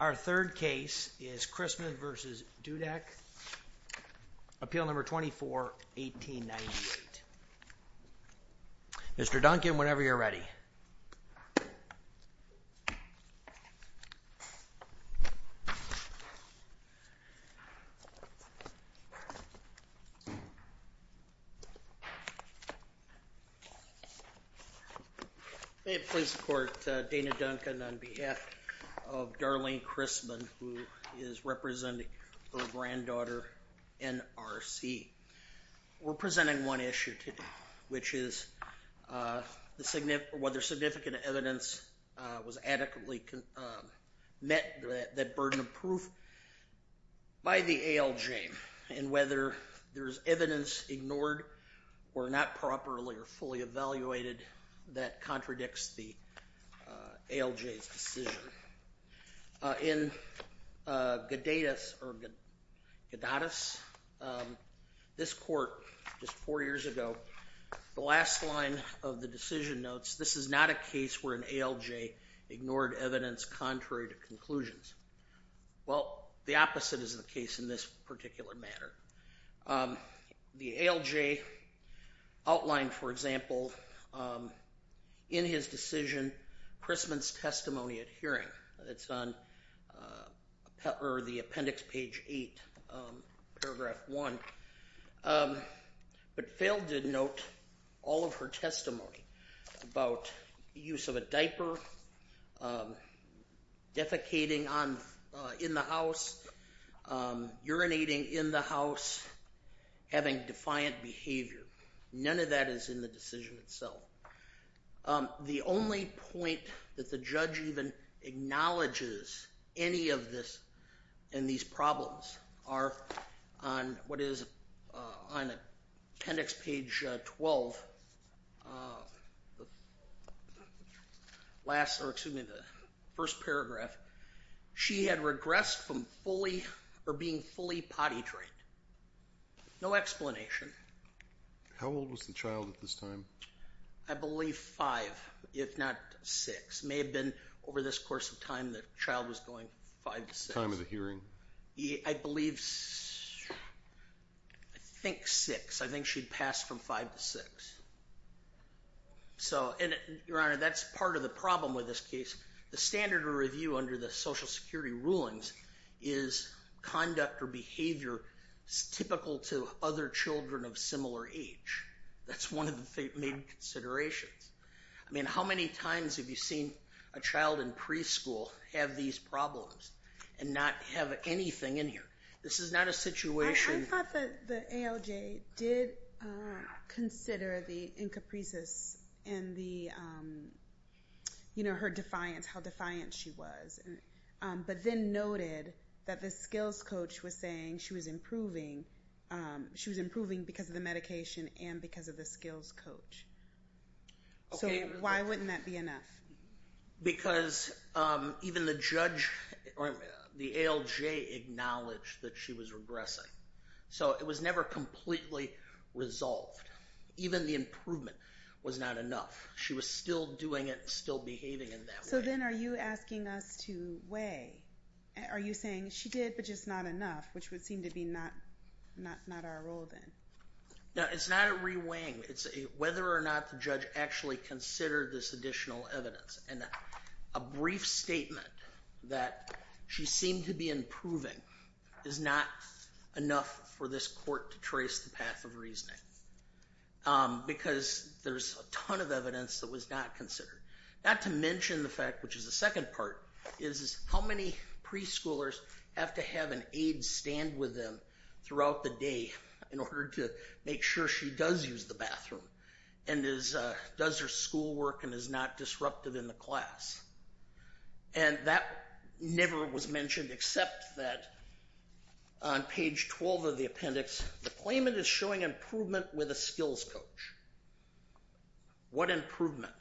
Our third case is Chrisman v. Dudek, Appeal No. 24-1898. Mr. Duncan, whenever you're ready. May it please the court, Dana Duncan on behalf of Darlene Chrisman, who is representing her granddaughter, N.R.C. We're presenting one issue today, which is whether significant evidence was adequately met, that burden of proof, by the ALJ and whether there's evidence ignored or not properly or fully evaluated that contradicts the ALJ's decision. In Gadatus, this court, just four years ago, the last line of the decision notes, this is not a case where an ALJ ignored evidence contrary to conclusions. Well, the opposite is the case in this particular matter. The ALJ outlined, for example, in his decision, Chrisman's testimony at hearing. It's on the appendix, page 8, paragraph 1. But failed to note all of her testimony about use of a diaper, defecating in the house, urinating in the house, having defiant behavior. None of that is in the decision itself. The only point that the judge even acknowledges any of this, in these problems, are on what is appendix, page 12, the first paragraph. She had regressed from being fully potty trained. No explanation. How old was the child at this time? I believe 5, if not 6. May have been over this course of time, the child was going 5 to 6. Time of the hearing. I believe, I think 6. I think she'd passed from 5 to 6. Your Honor, that's part of the problem with this case. The standard of review under the Social Security rulings is conduct or behavior typical to other children of similar age. That's one of the main considerations. I mean, how many times have you seen a child in preschool have these problems and not have anything in here? This is not a situation. I thought that the ALJ did consider the incaprices and the, you know, her defiance, how defiant she was, but then noted that the skills coach was saying she was improving. She was improving because of the medication and because of the skills coach. So why wouldn't that be enough? Because even the judge or the ALJ acknowledged that she was regressing. So it was never completely resolved. Even the improvement was not enough. She was still doing it and still behaving in that way. So then are you asking us to weigh? Are you saying she did, but just not enough, which would seem to be not our role then? No, it's not a re-weighing. It's whether or not the judge actually considered this additional evidence. And a brief statement that she seemed to be improving is not enough for this court to trace the path of reasoning because there's a ton of evidence that was not considered. Not to mention the fact, which is the second part, is how many preschoolers have to have an aide stand with them throughout the day in order to make sure she does use the bathroom and does her schoolwork and is not disruptive in the class. And that never was mentioned except that on page 12 of the appendix, the claimant is showing improvement with a skills coach. What improvement?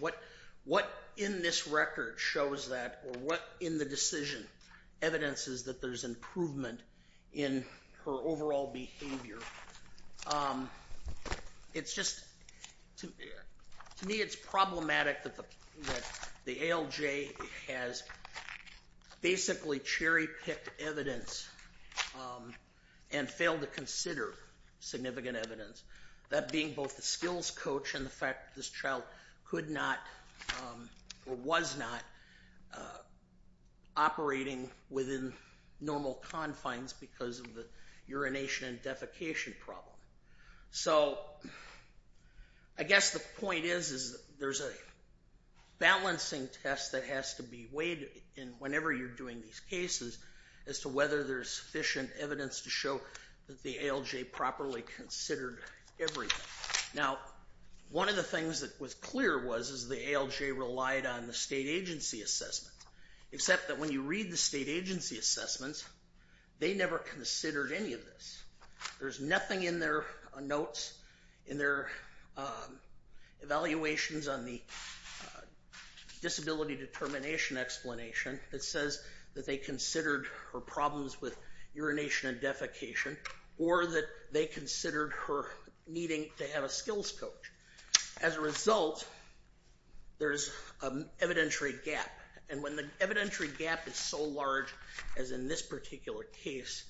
What in this record shows that or what in the decision evidence is that there's improvement in her overall behavior? It's just to me it's problematic that the ALJ has basically cherry-picked evidence and failed to consider significant evidence. That being both the skills coach and the fact that this child could not or was not operating within normal confines because of the urination and defecation problem. So I guess the point is there's a balancing test that has to be weighed whenever you're doing these cases as to whether there's sufficient evidence to show that the ALJ properly considered everything. Now one of the things that was clear was the ALJ relied on the state agency assessment except that when you read the state agency assessments, they never considered any of this. There's nothing in their notes, in their evaluations on the disability determination explanation that says that they considered her problems with urination and defecation or that they considered her needing to have a skills coach. As a result, there's an evidentiary gap. And when the evidentiary gap is so large as in this particular case,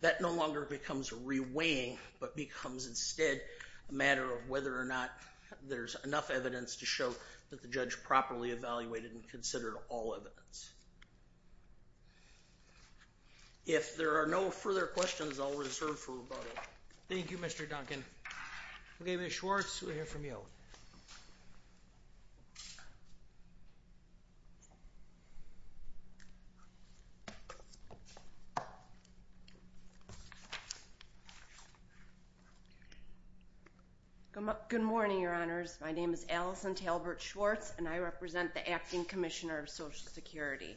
that no longer becomes re-weighing but becomes instead a matter of whether or not there's enough evidence to show that the judge properly evaluated and considered all evidence. If there are no further questions, I'll reserve for a moment. Thank you, Mr. Duncan. Okay, Ms. Schwartz, we'll hear from you. Good morning, Your Honors. My name is Allison Talbert Schwartz, and I represent the Acting Commissioner of Social Security.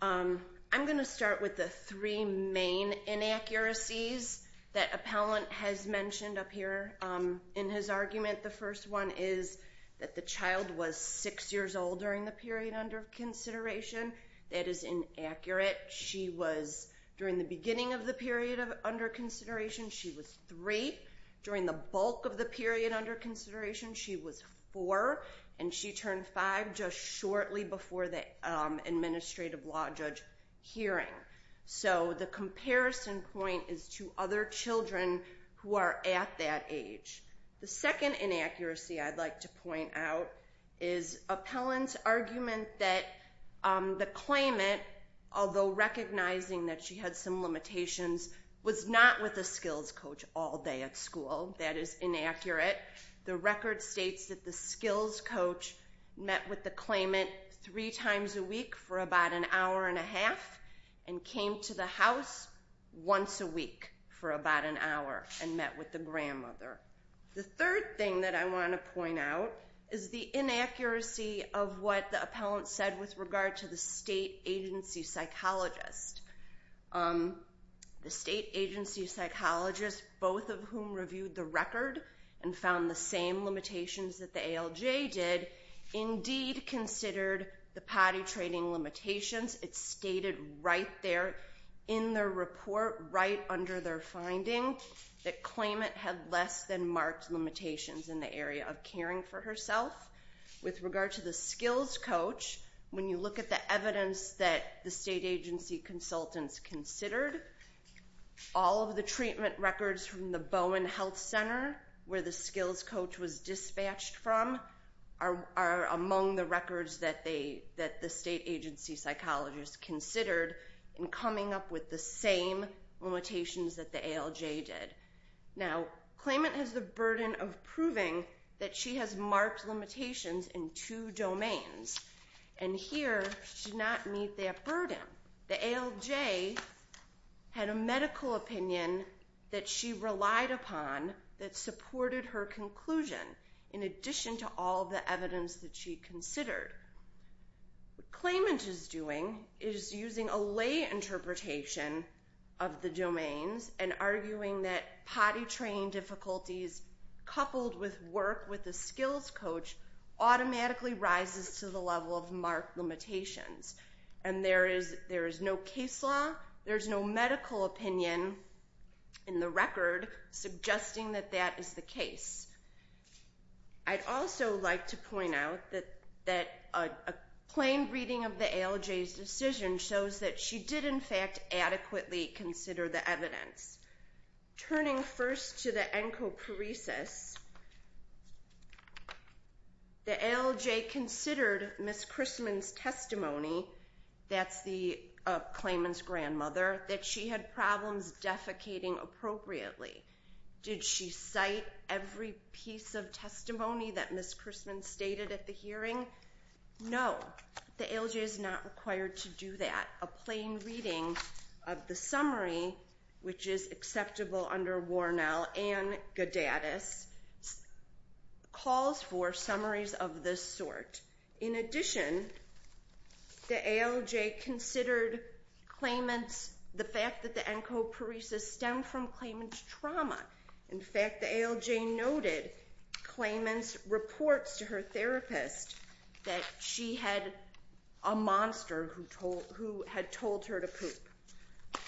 I'm going to start with the three main inaccuracies that Appellant has mentioned up here in his argument. The first one is that the child was six years old during the period under consideration. That is inaccurate. She was, during the beginning of the period under consideration, she was three. During the bulk of the period under consideration, she was four, and she turned five just shortly before the administrative law judge hearing. So the comparison point is to other children who are at that age. The second inaccuracy I'd like to point out is Appellant's argument that the claimant, although recognizing that she had some limitations, was not with a skills coach all day at school. That is inaccurate. The record states that the skills coach met with the claimant three times a week for about an hour and a half and came to the house once a week for about an hour and met with the grandmother. The third thing that I want to point out is the inaccuracy of what the appellant said with regard to the state agency psychologist. The state agency psychologist, both of whom reviewed the record and found the same limitations that the ALJ did, indeed considered the potty training limitations. It's stated right there in their report, right under their finding, that claimant had less than marked limitations in the area of caring for herself. With regard to the skills coach, when you look at the evidence that the state agency consultants considered, all of the treatment records from the Bowen Health Center, where the skills coach was dispatched from, are among the records that the state agency psychologist considered in coming up with the same limitations that the ALJ did. Now, claimant has the burden of proving that she has marked limitations in two domains. And here, she did not meet that burden. The ALJ had a medical opinion that she relied upon that supported her conclusion, in addition to all the evidence that she considered. What claimant is doing is using a lay interpretation of the domains and arguing that potty training difficulties, coupled with work with the skills coach, automatically rises to the level of marked limitations. And there is no case law, there's no medical opinion in the record, suggesting that that is the case. I'd also like to point out that a plain reading of the ALJ's decision shows that she did, in fact, adequately consider the evidence. Turning first to the encopheresis, the ALJ considered Ms. Chrisman's testimony, that's the claimant's grandmother, that she had problems defecating appropriately. Did she cite every piece of testimony that Ms. Chrisman stated at the hearing? No, the ALJ is not required to do that. A plain reading of the summary, which is acceptable under Warnell and Gadadis, calls for summaries of this sort. In addition, the ALJ considered the fact that the encopheresis stemmed from claimant's trauma. In fact, the ALJ noted claimant's reports to her therapist that she had a monster who had told her to poop.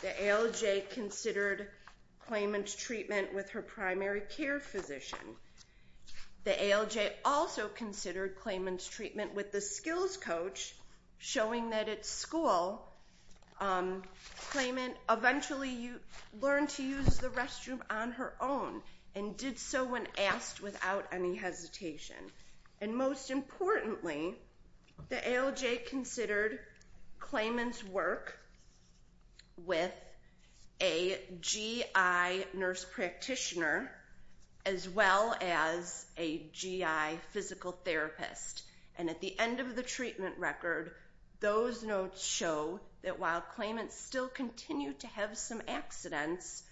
The ALJ considered claimant's treatment with her primary care physician. The ALJ also considered claimant's treatment with the skills coach, showing that at school, claimant eventually learned to use the restroom on her own and did so when asked without any hesitation. And most importantly, the ALJ considered claimant's work with a GI nurse practitioner as well as a GI physical therapist. And at the end of the treatment record, those notes show that while claimant still continued to have some accidents,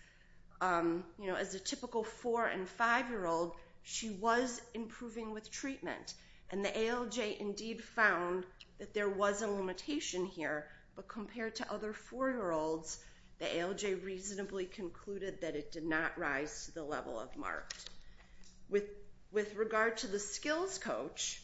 as a typical 4- and 5-year-old, she was improving with treatment. And the ALJ indeed found that there was a limitation here, but compared to other 4-year-olds, the ALJ reasonably concluded that it did not rise to the level of marked. With regard to the skills coach,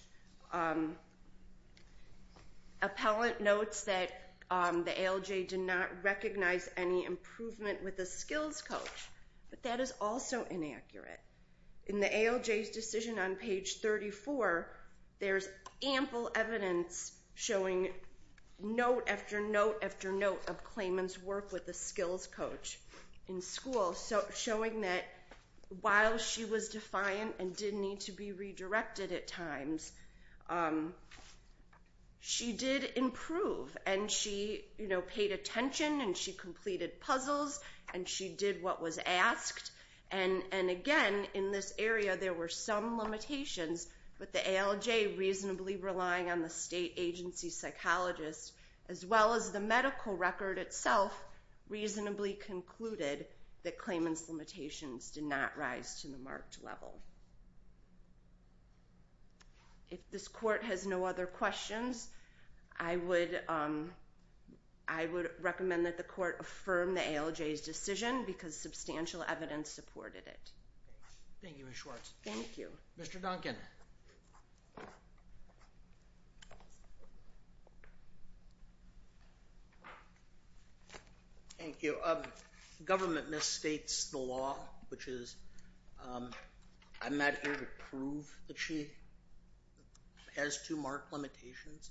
appellant notes that the ALJ did not recognize any improvement with the skills coach, but that is also inaccurate. In the ALJ's decision on page 34, there's ample evidence showing note after note after note of claimant's work with the skills coach in school, showing that while she was defiant and didn't need to be redirected at times, she did improve and she paid attention and she completed puzzles and she did what was asked. And again, in this area, there were some limitations, but the ALJ, reasonably relying on the state agency psychologist, as well as the medical record itself, reasonably concluded that claimant's limitations did not rise to the marked level. If this court has no other questions, I would recommend that the court affirm the ALJ's decision because substantial evidence supported it. Thank you, Ms. Schwartz. Thank you. Mr. Duncan. Thank you. Government misstates the law, which is I'm not here to prove that she has two marked limitations.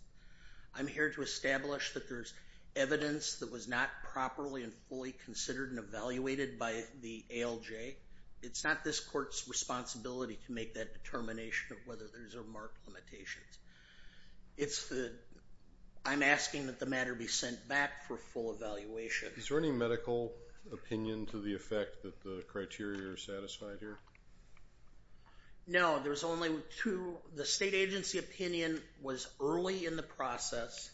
I'm here to establish that there's evidence that was not properly and fully considered and evaluated by the ALJ. It's not this court's responsibility to make that determination of whether there's a marked limitation. I'm asking that the matter be sent back for full evaluation. Is there any medical opinion to the effect that the criteria are satisfied here? No, there's only two. The state agency opinion was early in the process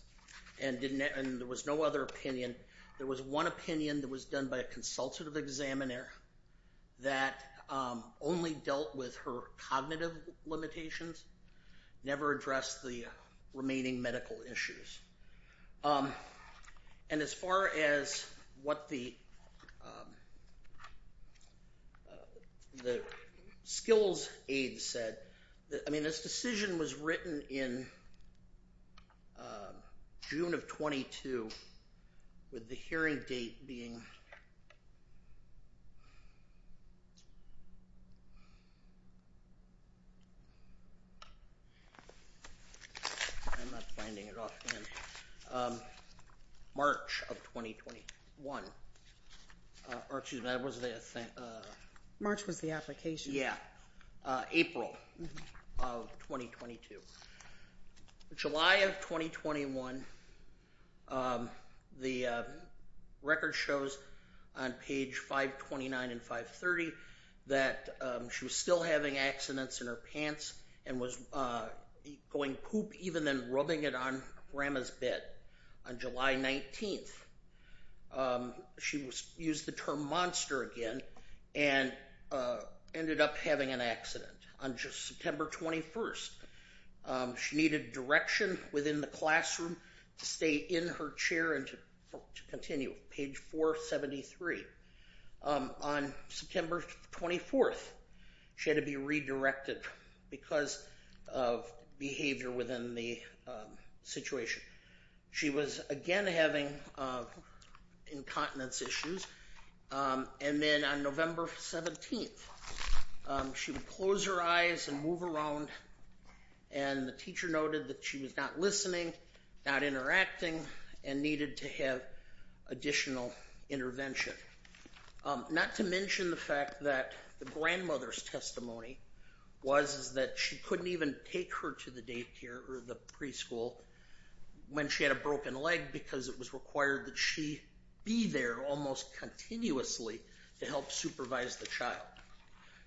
and there was no other opinion. There was one opinion that was done by a consultative examiner that only dealt with her cognitive limitations, never addressed the remaining medical issues. And as far as what the skills aid said, I mean, this decision was written in June of 22 with the hearing date being I'm not finding it off hand. March of 2021. March was the application. Yeah. April of 2022. July of 2021. The record shows on page 529 and 530 that she was still having accidents in her pants and was going poop even then rubbing it on grandma's bed. On July 19th, she used the term monster again and ended up having an accident. On September 21st, she needed direction within the classroom to stay in her chair and to continue. Page 473. On September 24th, she had to be redirected because of behavior within the situation. She was again having incontinence issues. And then on November 17th, she would close her eyes and move around. And the teacher noted that she was not listening, not interacting, and needed to have additional intervention. Not to mention the fact that the grandmother's testimony was that she couldn't even take her to the daycare or the preschool when she had a broken leg because it was required that she be there almost continuously to help supervise the child.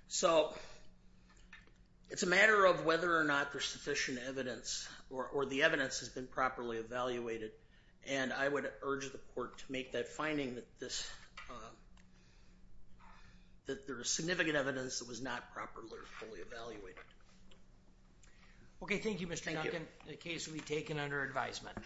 So it's a matter of whether or not there's sufficient evidence or the evidence has been properly evaluated. And I would urge the court to make that finding that there is significant evidence that was not properly fully evaluated. Okay. Thank you, Mr. Duncan. The case will be taken under advisement.